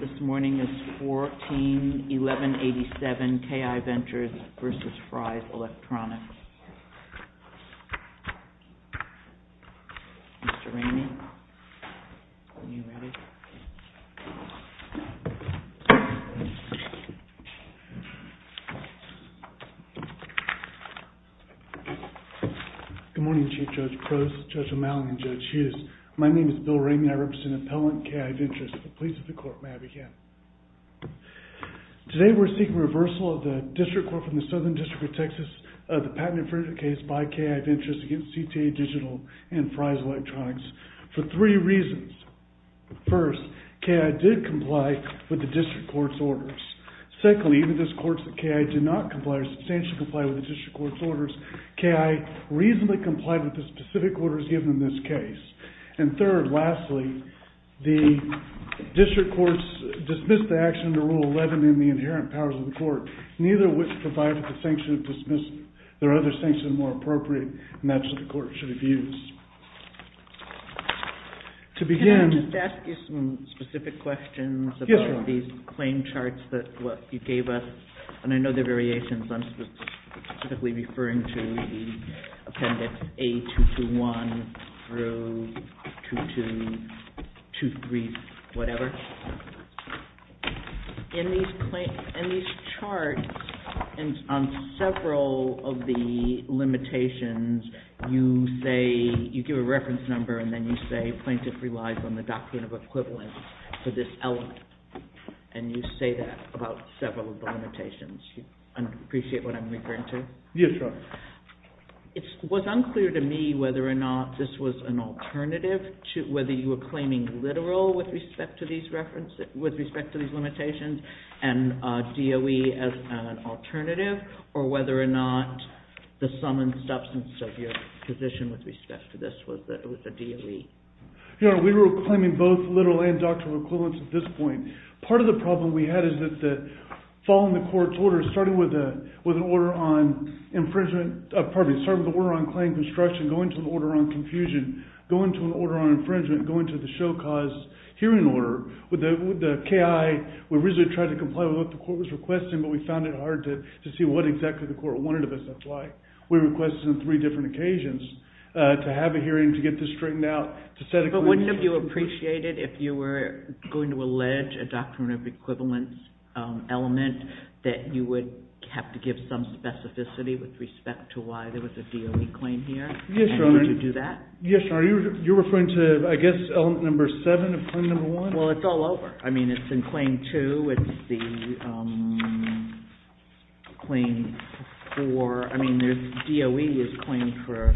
This morning is 14-1187 KI Ventures v. Fry's Electronics. Mr. Ramey, are you ready? Good morning, Chief Judge Prose, Judge O'Malley, and Judge Hughes. My name is Bill Ramey. I represent Appellant KI Ventures. The police of the court may have again. Today we're seeking reversal of the district court from the Southern District of Texas of the patent infringement case by KI Ventures against CTA Digital and Fry's Electronics for three reasons. First, KI did comply with the district court's orders. Secondly, even if those courts that KI did not comply or substantially comply with the district court's orders, KI reasonably complied with the specific orders given in this case. And third, lastly, the district courts dismissed the action under Rule 11 in the inherent powers of the court, neither of which provided the sanction of dismissal. There are other sanctions that are more appropriate, and that's what the court should have used. Can I just ask you some specific questions about these claim charts that you gave us? And I know they're variations. I'm specifically referring to the appendix A-221 through 2223-whatever. In these charts, on several of the limitations, you say, you give a reference number, and then you say plaintiff relies on the doctrine of equivalence to this element. And you say that about several of the limitations. Do you appreciate what I'm referring to? Yes, Your Honor. It was unclear to me whether or not this was an alternative, whether you were claiming literal with respect to these limitations and DOE as an alternative, or whether or not the sum and substance of your position with respect to this was the DOE. Your Honor, we were claiming both literal and doctrinal equivalence at this point. Part of the problem we had is that following the court's order, starting with an order on infringement – pardon me, starting with the order on claim construction, going to the order on confusion, going to an order on infringement, going to the show cause hearing order. With the KI, we originally tried to comply with what the court was requesting, but we found it hard to see what exactly the court wanted of us. That's why we requested on three different occasions to have a hearing to get this straightened out, to set a claim – But wouldn't it be appreciated if you were going to allege a doctrinal equivalence element that you would have to give some specificity with respect to why there was a DOE claim here? Yes, Your Honor. And you would do that? Yes, Your Honor. You're referring to, I guess, element number seven of claim number one? Well, it's all over. I mean, it's in claim two. It's the claim for – I mean, DOE is claimed for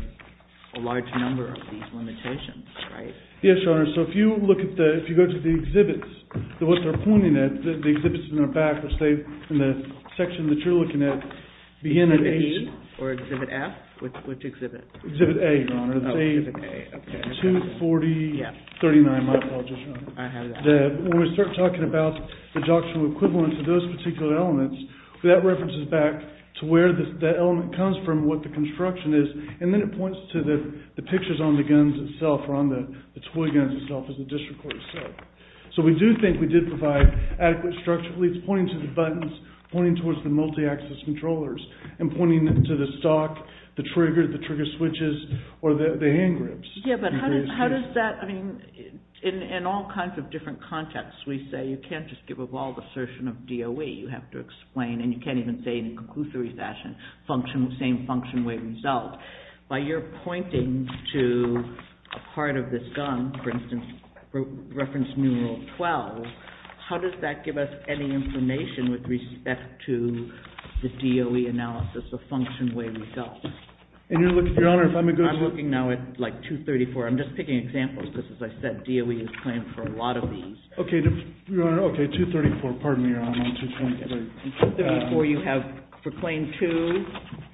a large number of these limitations, right? Yes, Your Honor. So if you look at the – if you go to the exhibits, what they're pointing at, the exhibits in the back, which they – in the section that you're looking at, begin at A – Exhibit E or Exhibit F? Which exhibit? Exhibit A, Your Honor. Oh, Exhibit A. Okay. 24039, my apologies, Your Honor. I have that. When we start talking about the doctrinal equivalence of those particular elements, that references back to where that element comes from, what the construction is, and then it points to the pictures on the guns itself or on the toy guns itself as the district court said. So we do think we did provide adequate structure. It's pointing to the buttons, pointing towards the multi-axis controllers, and pointing to the stock, the trigger, the trigger switches, or the hand grips. Yes, but how does that – I mean, in all kinds of different contexts, we say, you can't just give a bald assertion of DOE. You have to explain, and you can't even say in a conclusory fashion, function – same function way result. By your pointing to a part of this gun, for instance, reference numeral 12, how does that give us any information with respect to the DOE analysis, the function way result? And, Your Honor, if I may go – I'm looking now at, like, 234. I'm just picking examples because, as I said, DOE is playing for a lot of these. Okay, Your Honor. Okay, 234. Pardon me, Your Honor. I'm on 234. 234, you have – for Claim 2,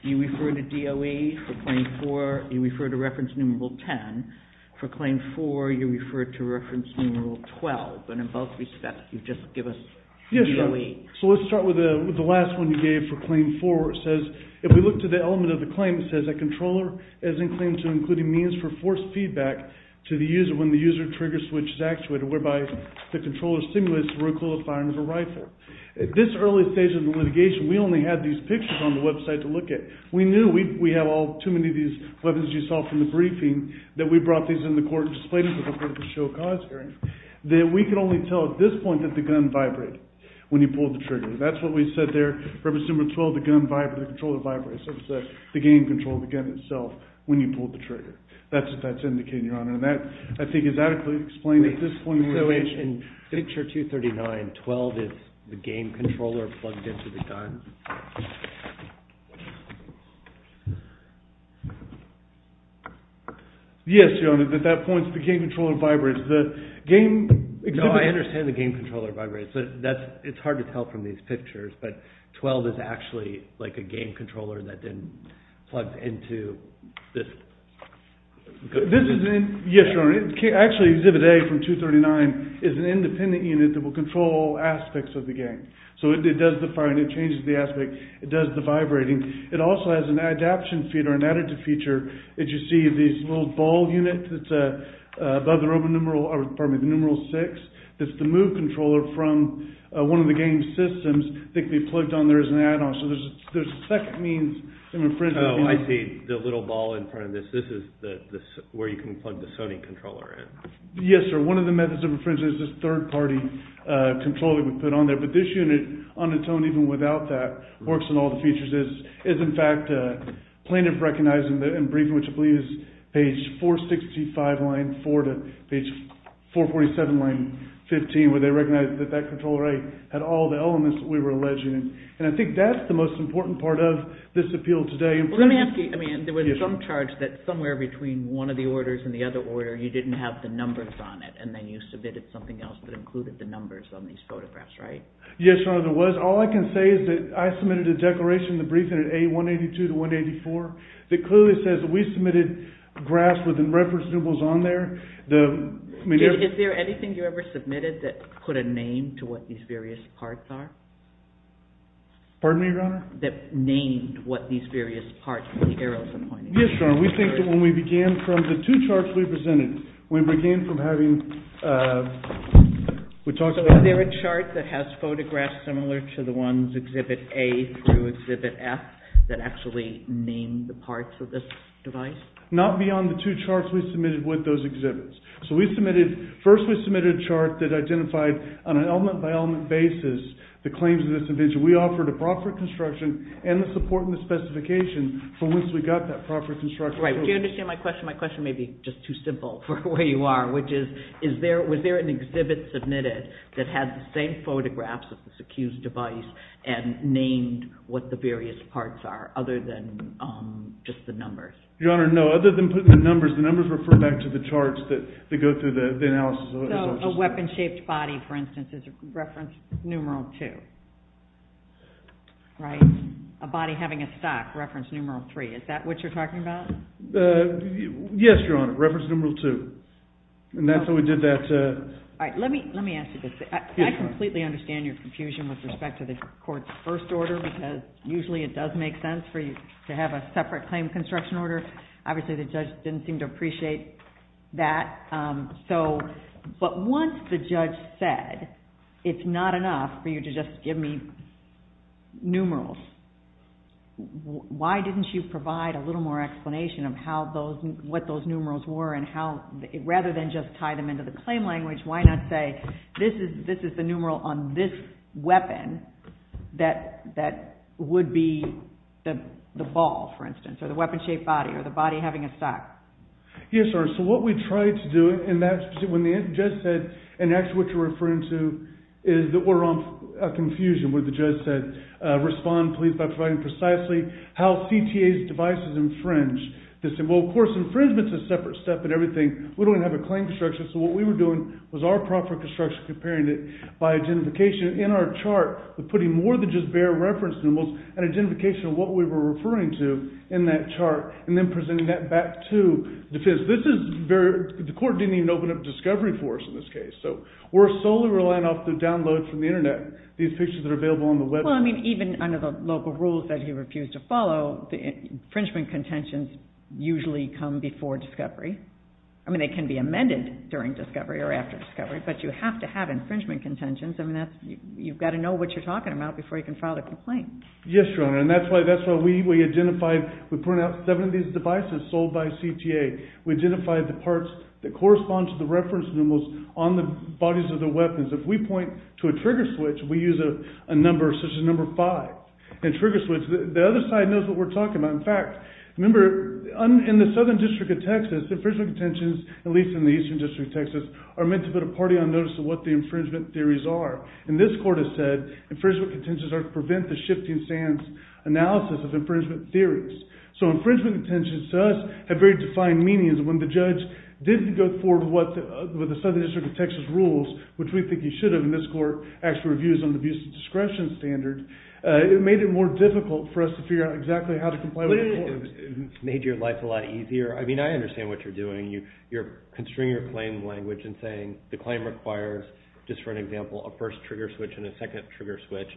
you refer to DOE. For Claim 4, you refer to reference numeral 10. For Claim 4, you refer to reference numeral 12. And in both respects, you just give us DOE. Yes, Your Honor. So let's start with the last one you gave for Claim 4. It says, if we look to the element of the claim, it says, a controller is in claim to including means for forced feedback to the user after a trigger switch is actuated whereby the controller stimulates the recoil of firing of a rifle. At this early stage of the litigation, we only had these pictures on the website to look at. We knew we had all too many of these weapons you saw from the briefing that we brought these in the court and displayed them before the show of cause hearing, that we could only tell at this point that the gun vibrated when you pulled the trigger. That's what we said there. Reference numeral 12, the gun vibrated, the controller vibrated. So it says the game controlled the gun itself when you pulled the trigger. That's what that's indicating, Your Honor. And that, I think, is adequately explained at this point in the litigation. So in picture 239, 12 is the game controller plugged into the gun? Yes, Your Honor. At that point, the game controller vibrates. No, I understand the game controller vibrates. It's hard to tell from these pictures. But 12 is actually like a game controller that then plugs into this. Yes, Your Honor. Actually, exhibit A from 239 is an independent unit that will control aspects of the game. So it does the firing, it changes the aspect, it does the vibrating. It also has an adaption feature, an additive feature, that you see these little ball units above the numeral 6, that's the move controller from one of the game's systems, that can be plugged on there as an add-on. So there's a second means. I see the little ball in front of this. This is where you can plug the Sony controller in. Yes, sir. One of the methods of infringement is this third-party controller that we put on there. But this unit, on its own, even without that, works on all the features. It's, in fact, plaintiff recognized in the briefing, which I believe is page 465, line 4, to page 447, line 15, where they recognized that that controller had all the elements that we were alleging. And I think that's the most important part of this appeal today. Well, let me ask you. I mean, there was some charge that somewhere between one of the orders and the other order, you didn't have the numbers on it, and then you submitted something else that included the numbers on these photographs, right? Yes, Your Honor, there was. All I can say is that I submitted a declaration in the briefing at A182 to 184 that clearly says we submitted graphs with the reference symbols on there. Is there anything you ever submitted that put a name to what these various parts are? Pardon me, Your Honor? That named what these various parts are, the arrows and pointers. Yes, Your Honor, we think that when we began from the two charts we presented, we began from having, we talked about... So is there a chart that has photographs similar to the ones, Exhibit A through Exhibit F, that actually named the parts of this device? Not beyond the two charts we submitted with those exhibits. So we submitted, first we submitted a chart that identified on an element-by-element basis the claims of this invention. We offered a proper construction and the support and the specifications from which we got that proper construction. Right, do you understand my question? My question may be just too simple for where you are, which is, was there an exhibit submitted that had the same photographs of this accused device and named what the various parts are, other than just the numbers? Your Honor, no, other than putting the numbers, the numbers refer back to the charts that go through the analysis. So a weapon-shaped body, for instance, is reference numeral two, right? A body having a stock, reference numeral three. Is that what you're talking about? Yes, Your Honor, reference numeral two. And that's how we did that. All right, let me ask you this. I completely understand your confusion with respect to the court's first order because usually it does make sense for you to have a separate claim construction order. Obviously the judge didn't seem to appreciate that. But once the judge said it's not enough for you to just give me numerals, why didn't you provide a little more explanation of what those numerals were and rather than just tie them into the claim language, why not say this is the numeral on this weapon that would be the ball, for instance, or the weapon-shaped body or the body having a stock? Yes, Your Honor. So what we tried to do and that's when the judge said and actually what you're referring to is that we're on a confusion where the judge said respond, please, by providing precisely how CTA's devices infringe. They said, well, of course, infringement's a separate step in everything. We don't even have a claim construction. So what we were doing was our proper construction, comparing it by identification in our chart, putting more than just bare reference numerals and identification of what we were referring to in that chart and then presenting that back to defense. The court didn't even open up discovery for us in this case. So we're solely relying off the downloads from the Internet, these pictures that are available on the website. Well, I mean, even under the local rules that he refused to follow, infringement contentions usually come before discovery. I mean, they can be amended during discovery or after discovery, but you have to have infringement contentions. I mean, you've got to know what you're talking about before you can file a complaint. Yes, Your Honor, and that's why we identified, we put out seven of these devices sold by CTA. We identified the parts that correspond to the reference numerals on the bodies of the weapons. If we point to a trigger switch, we use a number such as number five. And trigger switch, the other side knows what we're talking about. In fact, remember, in the Southern District of Texas, infringement contentions, at least in the Eastern District of Texas, are meant to put a party on notice of what the infringement theories are. And this court has said infringement contentions are to prevent the shifting stance analysis of infringement theories. So infringement contentions to us have very defined meanings. When the judge didn't go forward with the Southern District of Texas rules, which we think he should have in this court, actually reviews on the abuse of discretion standard, it made it more difficult for us to figure out exactly how to comply with the court. It made your life a lot easier. I mean, I understand what you're doing. You're constraining your claim language and saying the claim requires, just for an example, a first trigger switch and a second trigger switch.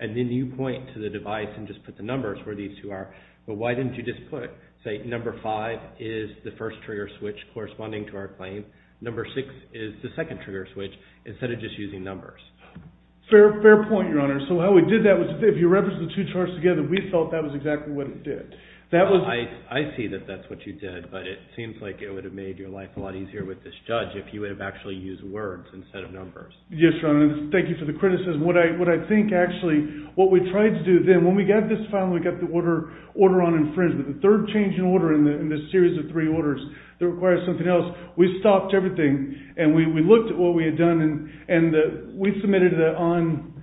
And then you point to the device and just put the numbers where these two are. But why didn't you just put, say, number five is the first trigger switch corresponding to our claim, number six is the second trigger switch, instead of just using numbers? Fair point, Your Honor. So how we did that was if you reference the two charts together, we felt that was exactly what it did. I see that that's what you did, but it seems like it would have made your life a lot easier with this judge if you would have actually used words instead of numbers. Yes, Your Honor. Thank you for the criticism. What I think, actually, what we tried to do then, when we got this file and we got the order on infringement, the third change in order in this series of three orders that requires something else, we stopped everything and we looked at what we had done. And we submitted it on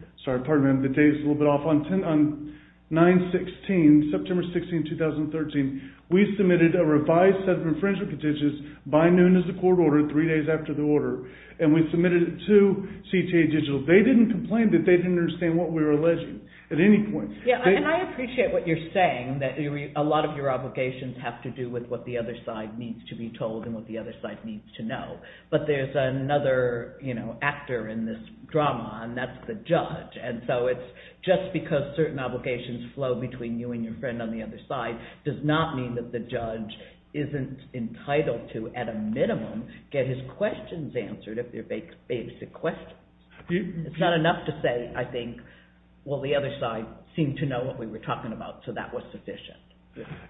9-16, September 16, 2013. We submitted a revised set of infringement petitions by noon as the court ordered, three days after the order. And we submitted it to CTA Digital. They didn't complain that they didn't understand what we were alleging at any point. And I appreciate what you're saying, that a lot of your obligations have to do with what the other side needs to be told and what the other side needs to know. But there's another actor in this drama, and that's the judge. And so it's just because certain obligations flow between you and your friend on the other side does not mean that the judge isn't entitled to, at a minimum, get his questions answered if they're basic questions. It's not enough to say, I think, well, the other side seemed to know what we were talking about, so that was sufficient.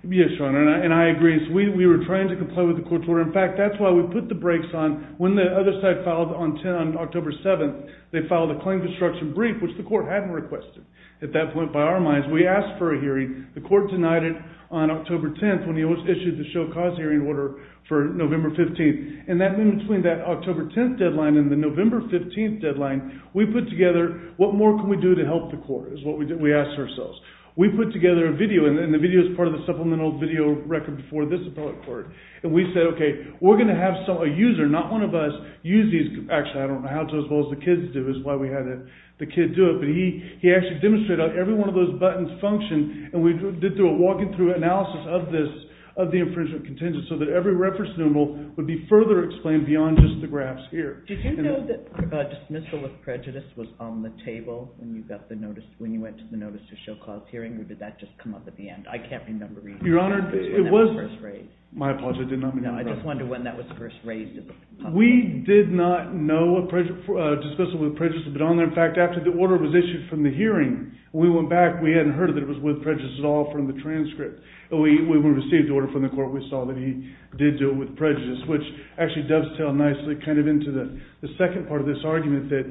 Yes, Sean, and I agree. We were trying to comply with the court's order. In fact, that's why we put the brakes on. When the other side filed on October 7th, they filed a claim construction brief, which the court hadn't requested. At that point, by our minds, we asked for a hearing. The court denied it on October 10th, when he issued the show-cause hearing order for November 15th. And in between that October 10th deadline and the November 15th deadline, we put together, what more can we do to help the court, is what we asked ourselves. We put together a video, and the video is part of the supplemental video record for this appellate court. And we said, okay, we're going to have a user, not one of us, use these. Actually, I don't know how to, as well as the kids do, is why we had the kid do it. But he actually demonstrated how every one of those buttons functioned, and we did a walking-through analysis of this, of the infringement contingent, so that every reference numeral would be further explained beyond just the graphs here. Did you know that dismissal of prejudice was on the table when you got the notice, when you went to the notice of show-cause hearing, or did that just come up at the end? I can't remember either. Your Honor, it was— When that was first raised. My apologies, I did not mean to interrupt. No, I just wondered when that was first raised at the public. We did not know dismissal of prejudice had been on there. In fact, after the order was issued from the hearing, when we went back, we hadn't heard that it was with prejudice at all from the transcript. When we received the order from the court, we saw that he did do it with prejudice, which actually dovetails nicely kind of into the second part of this argument, that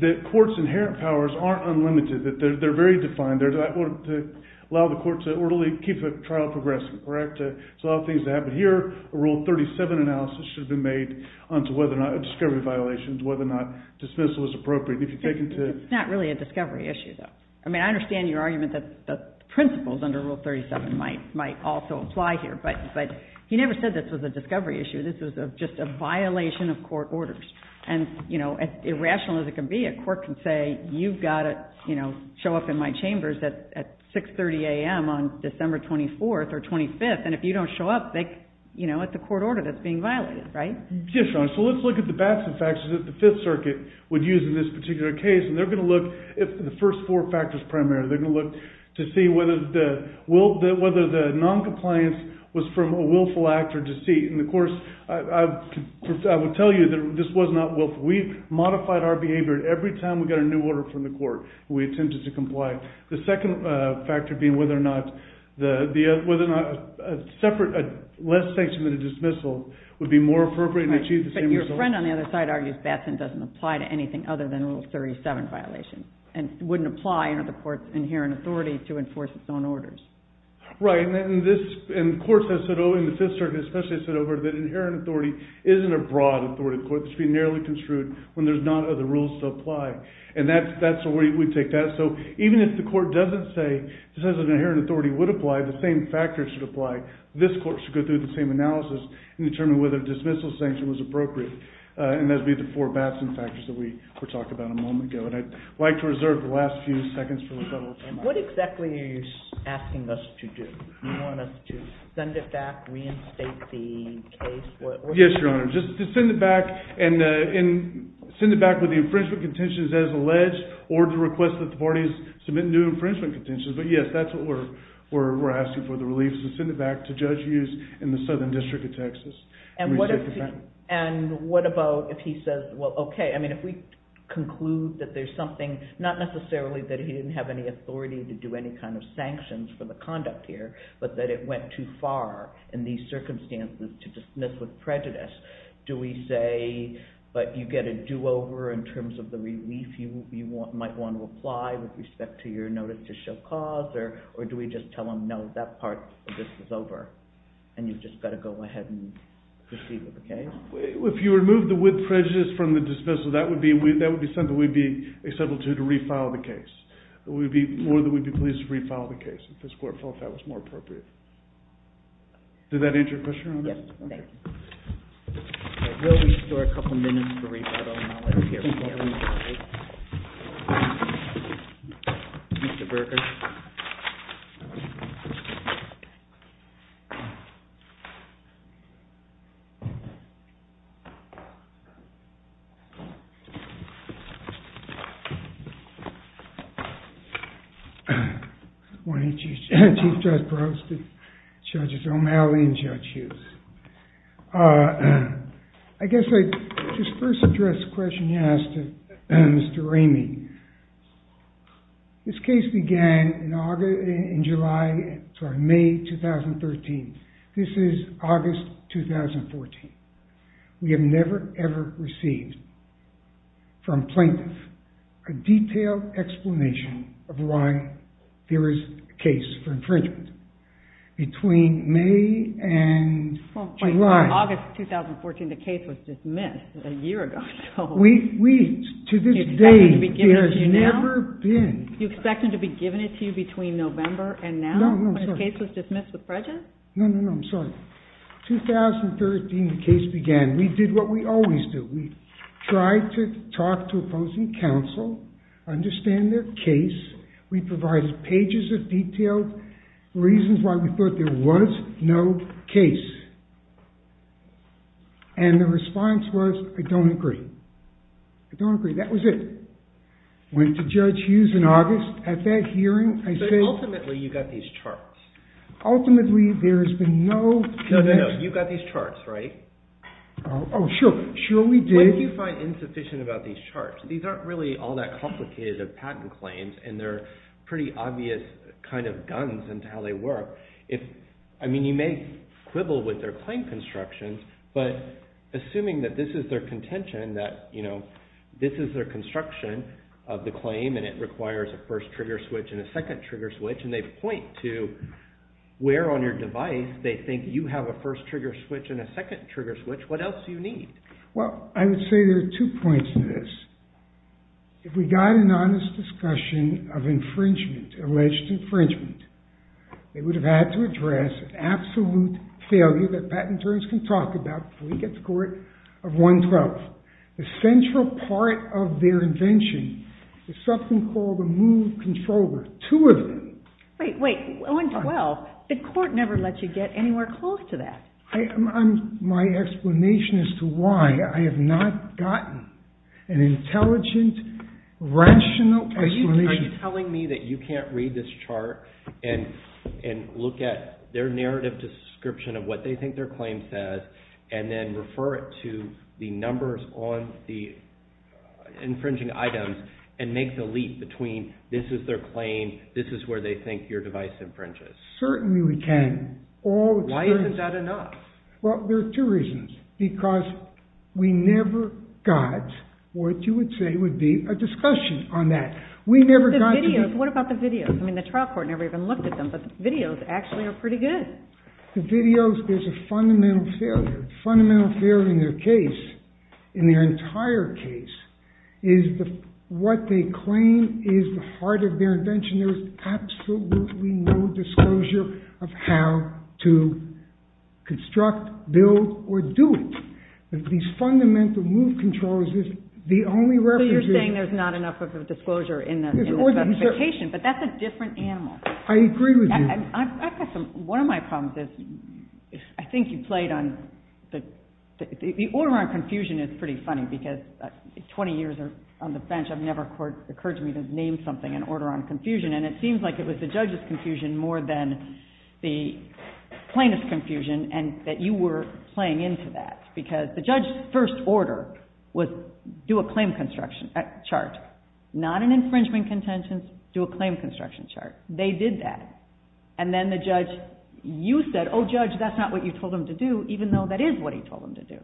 the court's inherent powers aren't unlimited, that they're very defined. They're to allow the court to orderly keep the trial progressing, correct? There's a lot of things to have. But here, Rule 37 analysis should have been made onto whether or not a discovery violation, whether or not dismissal was appropriate. It's not really a discovery issue, though. I mean, I understand your argument that the principles under Rule 37 might also apply here. But he never said this was a discovery issue. This was just a violation of court orders. And, you know, as irrational as it can be, a court can say, you've got to show up in my chambers at 6.30 a.m. on December 24th or 25th, and if you don't show up, it's a court order that's being violated, right? Yes, Your Honor. All right. So let's look at the facts and factors that the Fifth Circuit would use in this particular case. And they're going to look at the first four factors primarily. They're going to look to see whether the noncompliance was from a willful act or deceit. And, of course, I would tell you that this was not willful. We modified our behavior every time we got a new order from the court. We attempted to comply. The second factor being whether or not a separate less sanction than a dismissal would be more appropriate and achieve the same results. But your friend on the other side argues Batson doesn't apply to anything other than Rule 37 violations and wouldn't apply under the court's inherent authority to enforce its own orders. Right. And the court has said over in the Fifth Circuit, especially has said over, that inherent authority isn't a broad authority of the court. It should be narrowly construed when there's not other rules to apply. And that's the way we take that. So even if the court doesn't say it says an inherent authority would apply, the same factors should apply. This court should go through the same analysis and determine whether a dismissal sanction was appropriate. And those would be the four Batson factors that we were talking about a moment ago. And I'd like to reserve the last few seconds for a little timeout. What exactly are you asking us to do? Do you want us to send it back, reinstate the case? Yes, Your Honor. Just to send it back and send it back with the infringement contentions as alleged or to request that the parties submit new infringement contentions. But yes, that's what we're asking for, the relief. So send it back to Judge Hughes in the Southern District of Texas. And what about if he says, well, OK. I mean, if we conclude that there's something, not necessarily that he didn't have any authority to do any kind of sanctions for the conduct here, but that it went too far in these circumstances to dismiss with prejudice. Do we say, but you get a do-over in terms of the relief if you might want to apply with respect to your notice to show cause, or do we just tell him, no, that part of this is over, and you've just got to go ahead and proceed with the case? If you remove the with prejudice from the dismissal, that would be something we'd be acceptable to do to refile the case. We'd be more than we'd be pleased to refile the case if this court felt that was more appropriate. Does that answer your question, Your Honor? Yes, thank you. OK, we'll leave you for a couple minutes to rebuttal, and I'll let you hear what you have to say. Mr. Berger. Good morning, Chief Justice Barros, Judges O'Malley and Judge Hughes. I guess I'd just first address the question you asked of Mr. Ramey. This case began in May 2013. This is August 2014. We have never, ever received from plaintiffs a detailed explanation of why there is a case for infringement. Between May and July... Well, August 2014, the case was dismissed a year ago, so... Do you expect them to be giving it to you now? Do you expect them to be giving it to you between November and now, when the case was dismissed with prejudice? No, no, no, I'm sorry. 2013, the case began. We did what we always do. We tried to talk to opposing counsel, understand their case. We provided pages of detailed reasons why we thought there was no case. And the response was, I don't agree. I don't agree. That was it. Went to Judge Hughes in August. At that hearing, I said... But ultimately, you got these charts. Ultimately, there has been no... No, no, no. You got these charts, right? Oh, sure. Sure, we did. What do you find insufficient about these charts? These aren't really all that complicated of patent claims, and they're pretty obvious kind of guns into how they work. I mean, you may quibble with their claim construction, but assuming that this is their contention, that this is their construction of the claim, and it requires a first-trigger switch and a second-trigger switch, and they point to where on your device they think you have a first-trigger switch and a second-trigger switch, what else do you need? Well, I would say there are two points to this. If we got an honest discussion of infringement, alleged infringement, they would have had to address an absolute failure that patent attorneys can talk about before we get to court of 112th. The central part of their invention is something called a move controller. Two of them. Wait, wait. 112th, the court never lets you get anywhere close to that. My explanation as to why I have not gotten an intelligent, rational explanation... and look at their narrative description of what they think their claim says and then refer it to the numbers on the infringing items and make the leap between this is their claim, this is where they think your device infringes. Certainly we can. Why isn't that enough? Well, there are two reasons. Because we never got what you would say would be a discussion on that. What about the videos? I mean, the trial court never even looked at them, but the videos actually are pretty good. The videos is a fundamental failure. The fundamental failure in their case, in their entire case, is what they claim is the heart of their invention. There is absolutely no disclosure of how to construct, build, or do it. These fundamental move controllers is the only reference... I'm saying there's not enough of a disclosure in the specification, but that's a different animal. I agree with you. One of my problems is I think you played on the... The order on confusion is pretty funny because 20 years on the bench, I've never occurred to me to name something an order on confusion, and it seems like it was the judge's confusion more than the plaintiff's confusion and that you were playing into that. Because the judge's first order was do a claim construction chart, not an infringement contention, do a claim construction chart. They did that. And then the judge... You said, oh, judge, that's not what you told him to do, even though that is what he told him to do.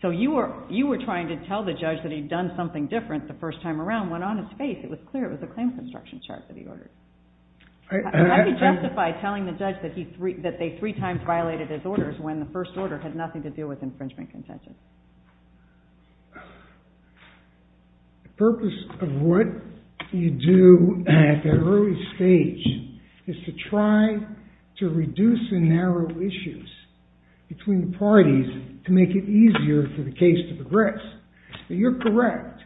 So you were trying to tell the judge that he'd done something different the first time around, went on his face. It was clear it was a claim construction chart that he ordered. How do you justify telling the judge that they three times violated his orders when the first order had nothing to do with infringement contention? The purpose of what you do at that early stage is to try to reduce the narrow issues between the parties to make it easier for the case to progress. You're correct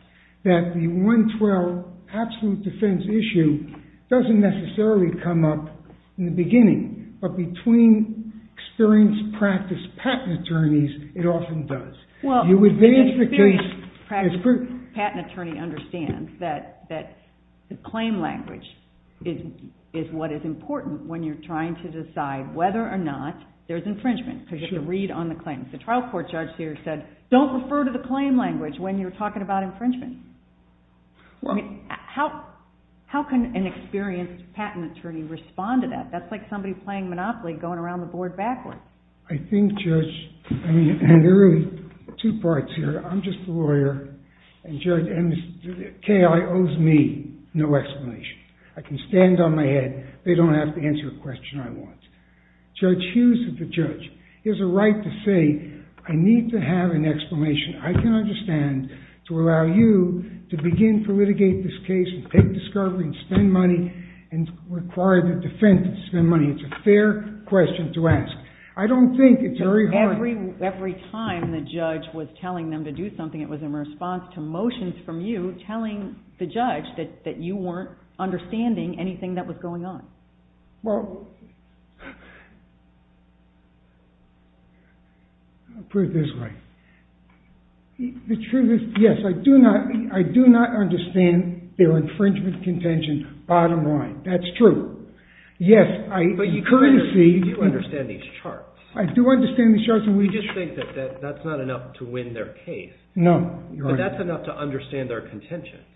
that the 112 absolute defense issue doesn't necessarily come up in the beginning, but between experienced practice patent attorneys, it often does. Well, an experienced patent attorney understands that the claim language is what is important when you're trying to decide whether or not there's infringement because you have to read on the claims. The trial court judge here said, don't refer to the claim language when you're talking about infringement. How can an experienced patent attorney respond to that? That's like somebody playing Monopoly going around the board backwards. I think, Judge, there are really two parts here. I'm just the lawyer, and K.I. owes me no explanation. I can stand on my head. They don't have to answer a question I want. Judge Hughes is the judge. He has a right to say, I need to have an explanation I can understand to allow you to begin to litigate this case and take discovery and spend money and require the defense to spend money. It's a fair question to ask. I don't think it's very hard. Every time the judge was telling them to do something, it was in response to motions from you telling the judge that you weren't understanding anything that was going on. Well, I'll put it this way. The truth is, yes, I do not understand their infringement contention bottom line. That's true. But you do understand these charts. I do understand these charts. You just think that that's not enough to win their case. No. That's enough to understand their contentions.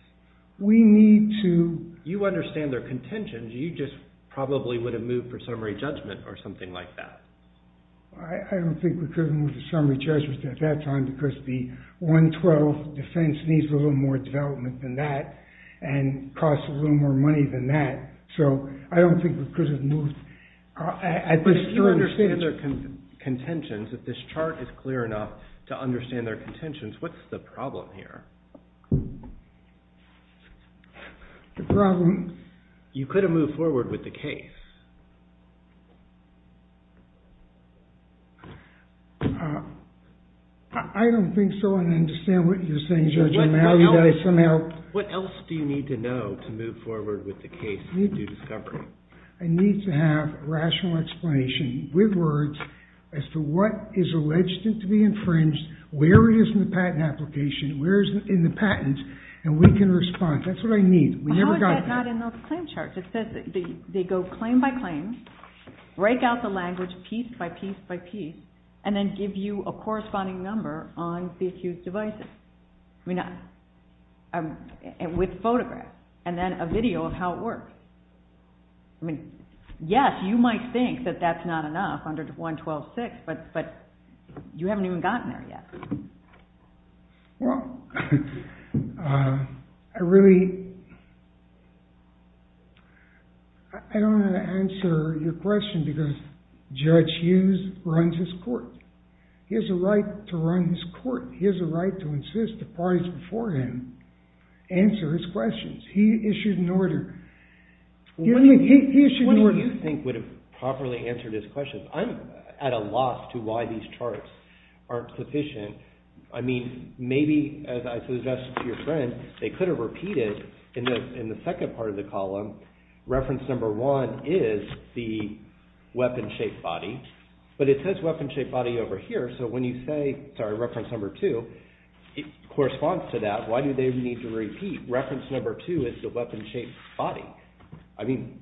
We need to... You understand their contentions. You just probably would have moved for summary judgment or something like that. I don't think we could have moved to summary judgment at that time because the 112 defense needs a little more development than that and costs a little more money than that. So I don't think we could have moved... But you understand their contentions. If this chart is clear enough to understand their contentions, what's the problem here? The problem... You could have moved forward with the case. I don't think so. I don't understand what you're saying, Judge. What else do you need to know to move forward with the case and do discovery? I need to have rational explanation with words as to what is alleged to be infringed, where it is in the patent application, where it is in the patent, and we can respond. That's what I need. How is that not in those claim charts? It says they go claim by claim, break out the language piece by piece by piece, and then give you a corresponding number on the accused's devices with photographs and then a video of how it works. Yes, you might think that that's not enough under 112-6, but you haven't even gotten there yet. Well, I really... I don't know how to answer your question because Judge Hughes runs his court. He has a right to run his court. He has a right to insist the parties before him answer his questions. He issued an order. He issued an order. What do you think would have properly answered his question? I'm at a loss to why these charts aren't sufficient. I mean, maybe, as I suggested to your friend, they could have repeated in the second part of the column, reference number one is the weapon-shaped body, but it says weapon-shaped body over here, so when you say, sorry, reference number two, it corresponds to that. Why do they need to repeat reference number two is the weapon-shaped body? I mean,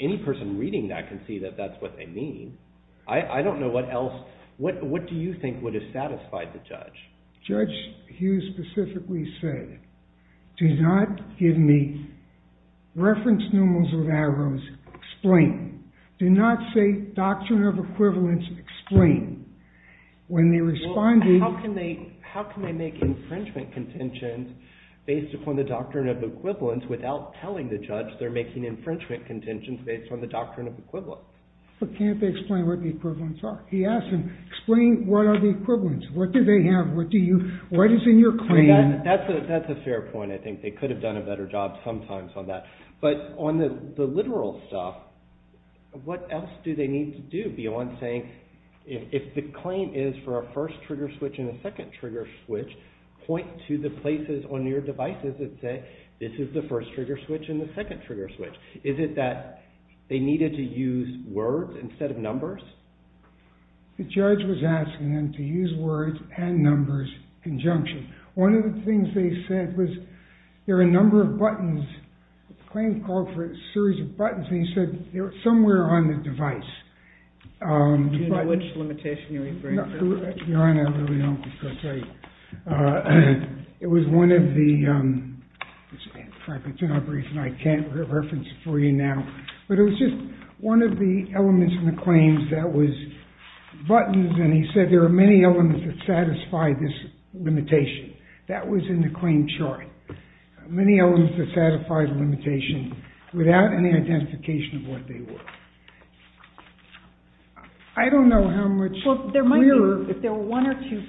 any person reading that can see that that's what they mean. I don't know what else. What do you think would have satisfied the judge? Judge Hughes specifically said, do not give me reference numerals with arrows, explain. Do not say doctrine of equivalence, explain. When they responded... How can they make infringement contentions based upon the doctrine of equivalence without telling the judge they're making infringement contentions based on the doctrine of equivalence? But can't they explain what the equivalents are? He asked him, explain what are the equivalents. What do they have? What is in your claim? That's a fair point. I think they could have done a better job sometimes on that. But on the literal stuff, what else do they need to do beyond saying, if the claim is for a first trigger switch and a second trigger switch, point to the places on your devices that say this is the first trigger switch and the second trigger switch. Is it that they needed to use words instead of numbers? The judge was asking them to use words and numbers in conjunction. One of the things they said was, there are a number of buttons, the claim called for a series of buttons, and he said they were somewhere on the device. Do you know which limitation you're referring to? Your Honor, I really don't because I... It was one of the... I can't reference it for you now. But it was just one of the elements in the claims that was buttons, and he said there are many elements that satisfy this limitation. That was in the claim chart. Many elements that satisfy the limitation without any identification of what they were. I don't know how much clearer... Well, there might be, if there were one or two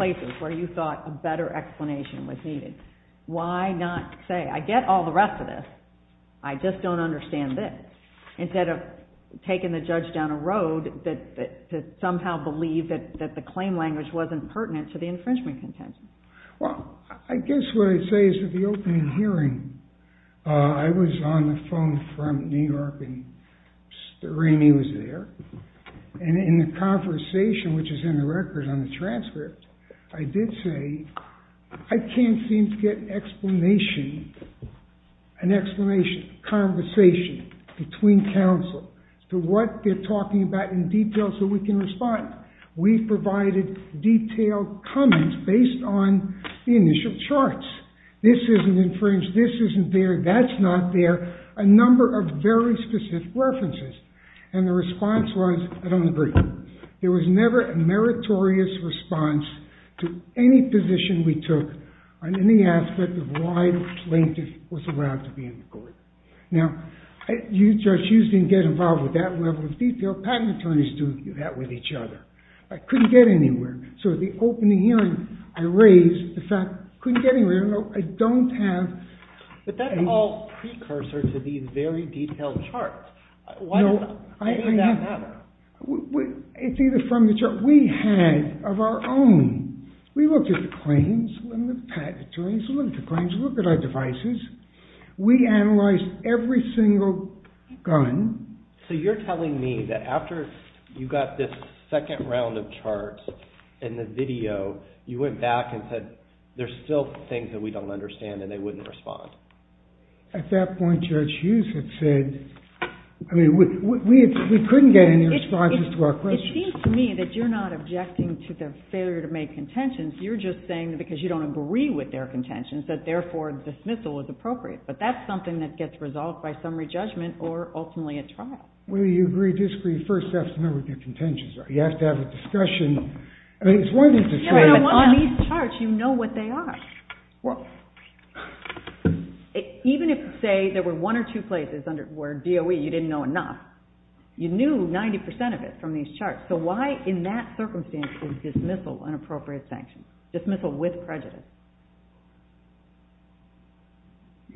places where you thought a better explanation was needed. Why not say, I get all the rest of this, I just don't understand this, instead of taking the judge down a road to somehow believe that the claim language wasn't pertinent to the infringement contention? Well, I guess what I'd say is at the opening hearing, I was on the phone from New York, and Remy was there. And in the conversation, which is in the record on the transcript, I did say, I can't seem to get explanation, an explanation, conversation between counsel to what they're talking about in detail so we can respond. We provided detailed comments based on the initial charts. This isn't infringed, this isn't there, that's not there, a number of very specific references. And the response was, I don't agree. There was never a meritorious response to any position we took on any aspect of why the plaintiff was allowed to be in court. Now, you, Judge Hughes, didn't get involved with that level of detail. Patent attorneys do that with each other. I couldn't get anywhere. So at the opening hearing, I raised the fact, I couldn't get anywhere, I don't have... But that's all precursor to these very detailed charts. Why does that matter? It's either from the chart we had of our own. We looked at the claims, we looked at patent attorneys, we looked at claims, we looked at our devices. We analyzed every single gun. So you're telling me that after you got this second round of charts in the video, you went back and said, there's still things that we don't understand and they wouldn't respond. At that point, Judge Hughes had said, I mean, we couldn't get any responses to our questions. It seems to me that you're not objecting to their failure to make contentions. You're just saying that because you don't agree with their contentions, that therefore dismissal is appropriate. But that's something that gets resolved by summary judgment or ultimately at trial. Whether you agree or disagree, first you have to know what their contentions are. You have to have a discussion. I mean, it's one thing to say... But on these charts, you know what they are. Well, even if, say, there were one or two places where DOE, you didn't know enough, you knew 90% of it from these charts. So why, in that circumstance, is dismissal an appropriate sanction? Dismissal with prejudice.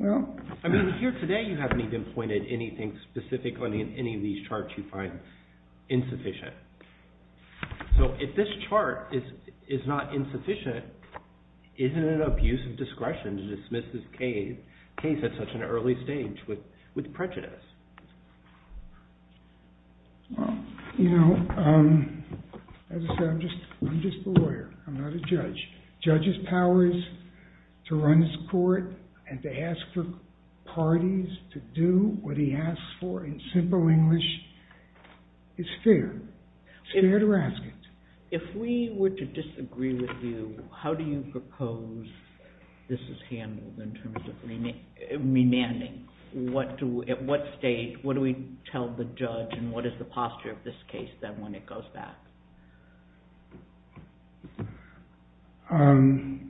I mean, here today, you haven't even pointed anything specific on any of these charts you find insufficient. So if this chart is not insufficient, isn't it an abuse of discretion to dismiss this case at such an early stage with prejudice? Well, you know, as I said, I'm just a lawyer. I'm not a judge. Judges' powers to run this court and to ask for parties to do what he asks for in simple English is fair. It's fair to ask it. If we were to disagree with you, how do you propose this is handled in terms of remanding? At what stage? What do we tell the judge? And what is the posture of this case, then, when it goes back? I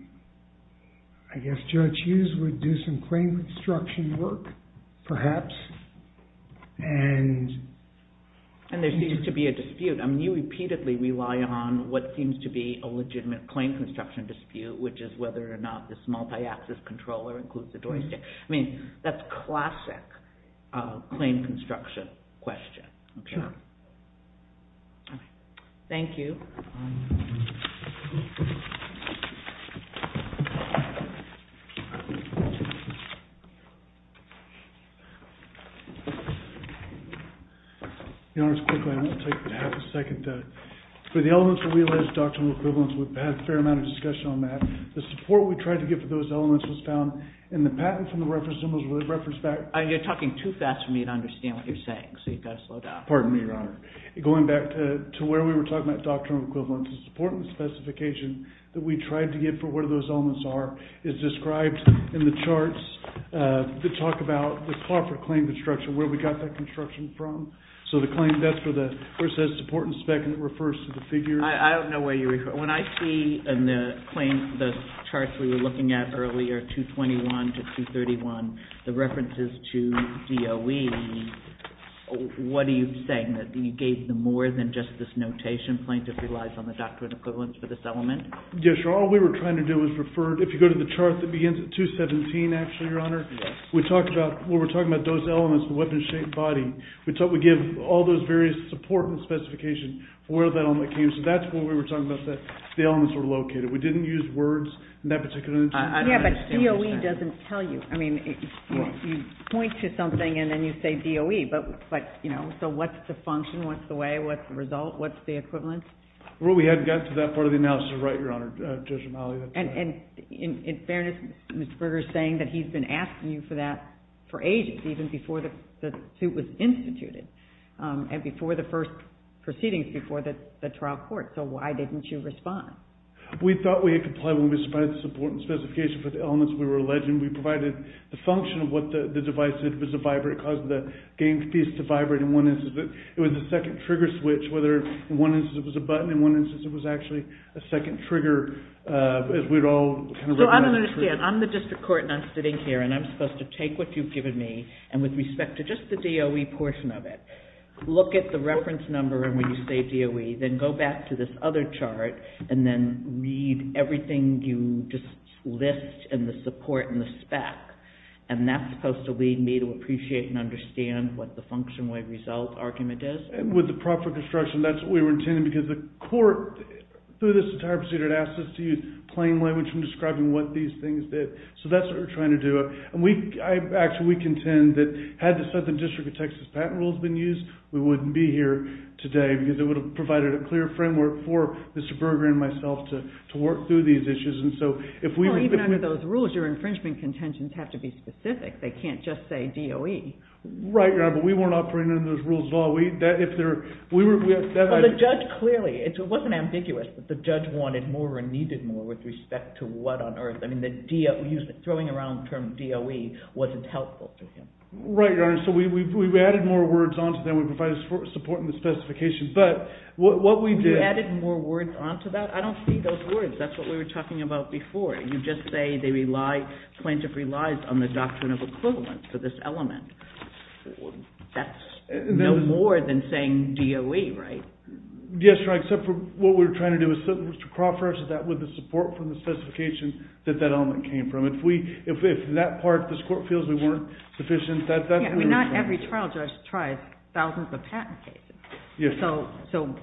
guess Judge Hughes would do some claim instruction work, perhaps. And there seems to be a dispute. I mean, you repeatedly rely on what seems to be a legitimate claim construction dispute, which is whether or not this multi-axis controller includes the doorstep. I mean, that's classic claim construction question, I'm sure. Thank you. Your Honor, just quickly. I want to take a half a second. For the elements of realized doctrinal equivalence, we've had a fair amount of discussion on that. The support we tried to get for those elements was found. And the patent from the reference symbols were referenced back. You're talking too fast for me to understand what you're saying. So you've got to slow down. equivalence. I think it's fair to say that the patent from the reference symbols was found specification that we tried to get for what those elements are is described in the charts that talk about the Crawford claim construction, where we got that construction from. So the claim, that's where it says support and spec, and it refers to the figure. I don't know where you refer. When I see in the charts we were looking at earlier, 221 to 231, the references to DOE, what are you saying? That you gave them more than just this notation plaintiff relies on the doctrinal equivalence for this element? Yes, Your Honor. All we were trying to do was refer, if you go to the chart that begins at 217, actually, Your Honor, we talked about, when we're talking about those elements, the weapon-shaped body, we give all those various support and specifications for where that element came. So that's where we were talking about that. The elements were located. We didn't use words in that particular instance. Yeah, but DOE doesn't tell you. I mean, you point to something, and then you say DOE. But, you know, so what's the function? What's the way? What's the result? What's the equivalence? Well, we hadn't gotten to that part of the analysis. You're right, Your Honor, Judge O'Malley. And in fairness, Mr. Kruger's saying that he's been asking you for that for ages, even before the suit was instituted and before the first proceedings before the trial court. So why didn't you respond? We thought we had complied when we provided the support and specification for the elements we were alleging. We provided the function of what the device did. It was a vibrate. It caused the game piece to vibrate in one instance. It was a second trigger switch, whether in one instance it was a button, in one instance it was actually a second trigger, as we'd all kind of looked at it. So I don't understand. I'm the district court, and I'm sitting here, and I'm supposed to take what you've given me, and with respect to just the DOE portion of it, look at the reference number, and when you say DOE, then go back to this other chart, and then read everything you just list and the support and the spec. And that's supposed to lead me to appreciate and understand what the functional result argument is. And with the proper construction, that's what we were intending, because the court, through this entire procedure, had asked us to use plain language in describing what these things did. So that's what we're trying to do. Actually, we contend that had the Southern District of Texas patent rules been used, we wouldn't be here today, because it would have provided a clear framework for Mr. Berger and myself to work through these issues. Well, even under those rules, your infringement contentions have to be specific. They can't just say DOE. Right, Your Honor, but we weren't operating under those rules at all. Well, the judge clearly, it wasn't ambiguous that the judge wanted more or needed more with respect to what on earth. I mean, throwing around the term DOE wasn't helpful to him. Right, Your Honor, so we've added more words onto them. We provided support in the specifications. But what we did... You added more words onto that? I don't see those words. That's what we were talking about before. You just say the plaintiff relies on the doctrine of equivalence for this element. That's no more than saying DOE, right? Yes, Your Honor, except for what we were trying to do was to cross-reference that with the support from the specifications that that element came from. If that part of this court feels we weren't sufficient, that's... Yeah, I mean, not every trial judge tries thousands of patent cases. So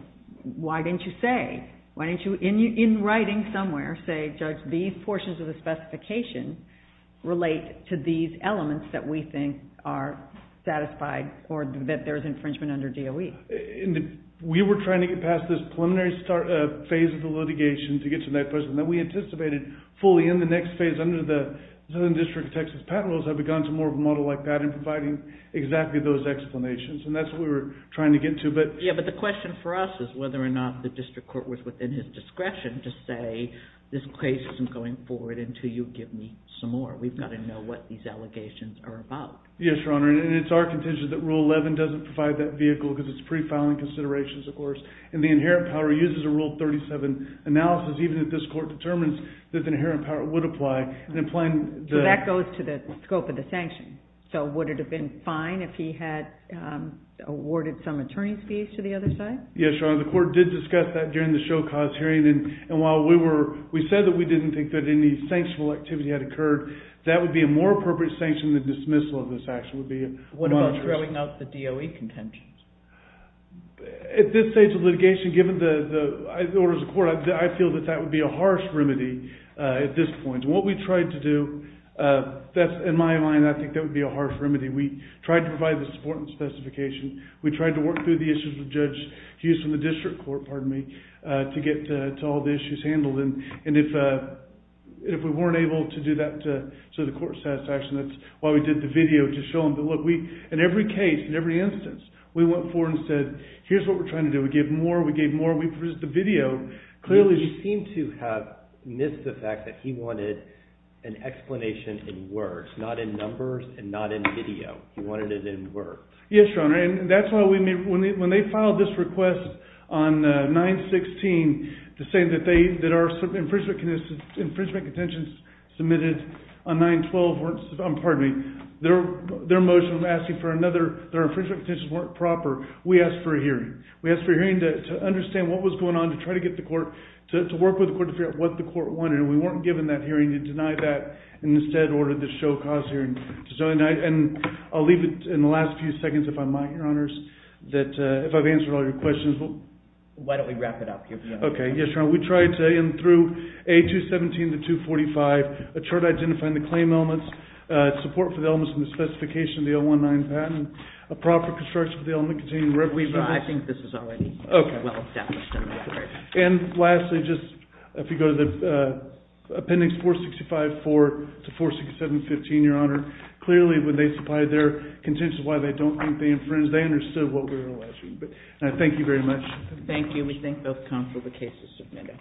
why didn't you say, why didn't you, in writing somewhere, say, Judge, these portions of the specification relate to these elements that we think are satisfied or that there is infringement under DOE? We were trying to get past this preliminary phase of the litigation to get to that question. Then we anticipated fully in the next phase under the Southern District of Texas patent laws that we'd gone to more of a model like that in providing exactly those explanations. And that's what we were trying to get to. Yeah, but the question for us is whether or not the district court was within his discretion to say, this case isn't going forward until you give me some more. We've got to know what these allegations are about. Yes, Your Honor, and it's our contention that Rule 11 doesn't provide that vehicle because it's pre-filing considerations, of course. And the inherent power uses a Rule 37 analysis, even if this court determines that the inherent power would apply. So that goes to the scope of the sanction. So would it have been fine if he had awarded some attorney's fees to the other side? Yes, Your Honor. The court did discuss that during the show-cause hearing. And while we said that we didn't think that any sanctional activity had occurred, that would be a more appropriate sanction than the dismissal of this action would be. What about throwing out the DOE contentions? At this stage of litigation, given the orders of court, I feel that that would be a harsh remedy at this point. And what we tried to do, in my mind, I think that would be a harsh remedy. We tried to provide the support and specification. We tried to work through the issues with Judge Hughes from the district court, pardon me, to get to all the issues handled. And if we weren't able to do that to the court's satisfaction, that's why we did the video to show them. But look, in every case, in every instance, we went forward and said, here's what we're trying to do. We gave more, we gave more. We produced the video. He seemed to have missed the fact that he wanted an explanation in words, not in numbers and not in video. He wanted it in words. Yes, Your Honor, and that's why we made, when they filed this request on 9-16 to say that our infringement contentions submitted on 9-12 weren't, pardon me, their motion of asking for another, their infringement contentions weren't proper, we asked for a hearing. We asked for a hearing to understand what was going on, to try to get the court, to work with the court to figure out what the court wanted. And we weren't given that hearing to deny that and instead ordered this show cause hearing. And I'll leave it in the last few seconds, if I might, Your Honors, that if I've answered all your questions. Why don't we wrap it up? OK, yes, Your Honor. We tried to, in through A-217 to 245, a chart identifying the claim elements, support for the elements in the specification of the 019 patent, a proper construction of the element containing reverence. I think this is already well established in the record. And lastly, just if you go to the appendix 465-4 to 467-15, Your Honor, clearly when they supplied their contentions, why they don't think they infringed, they understood what we were asking. Thank you very much. Thank you. We thank both counsel for the case you submitted.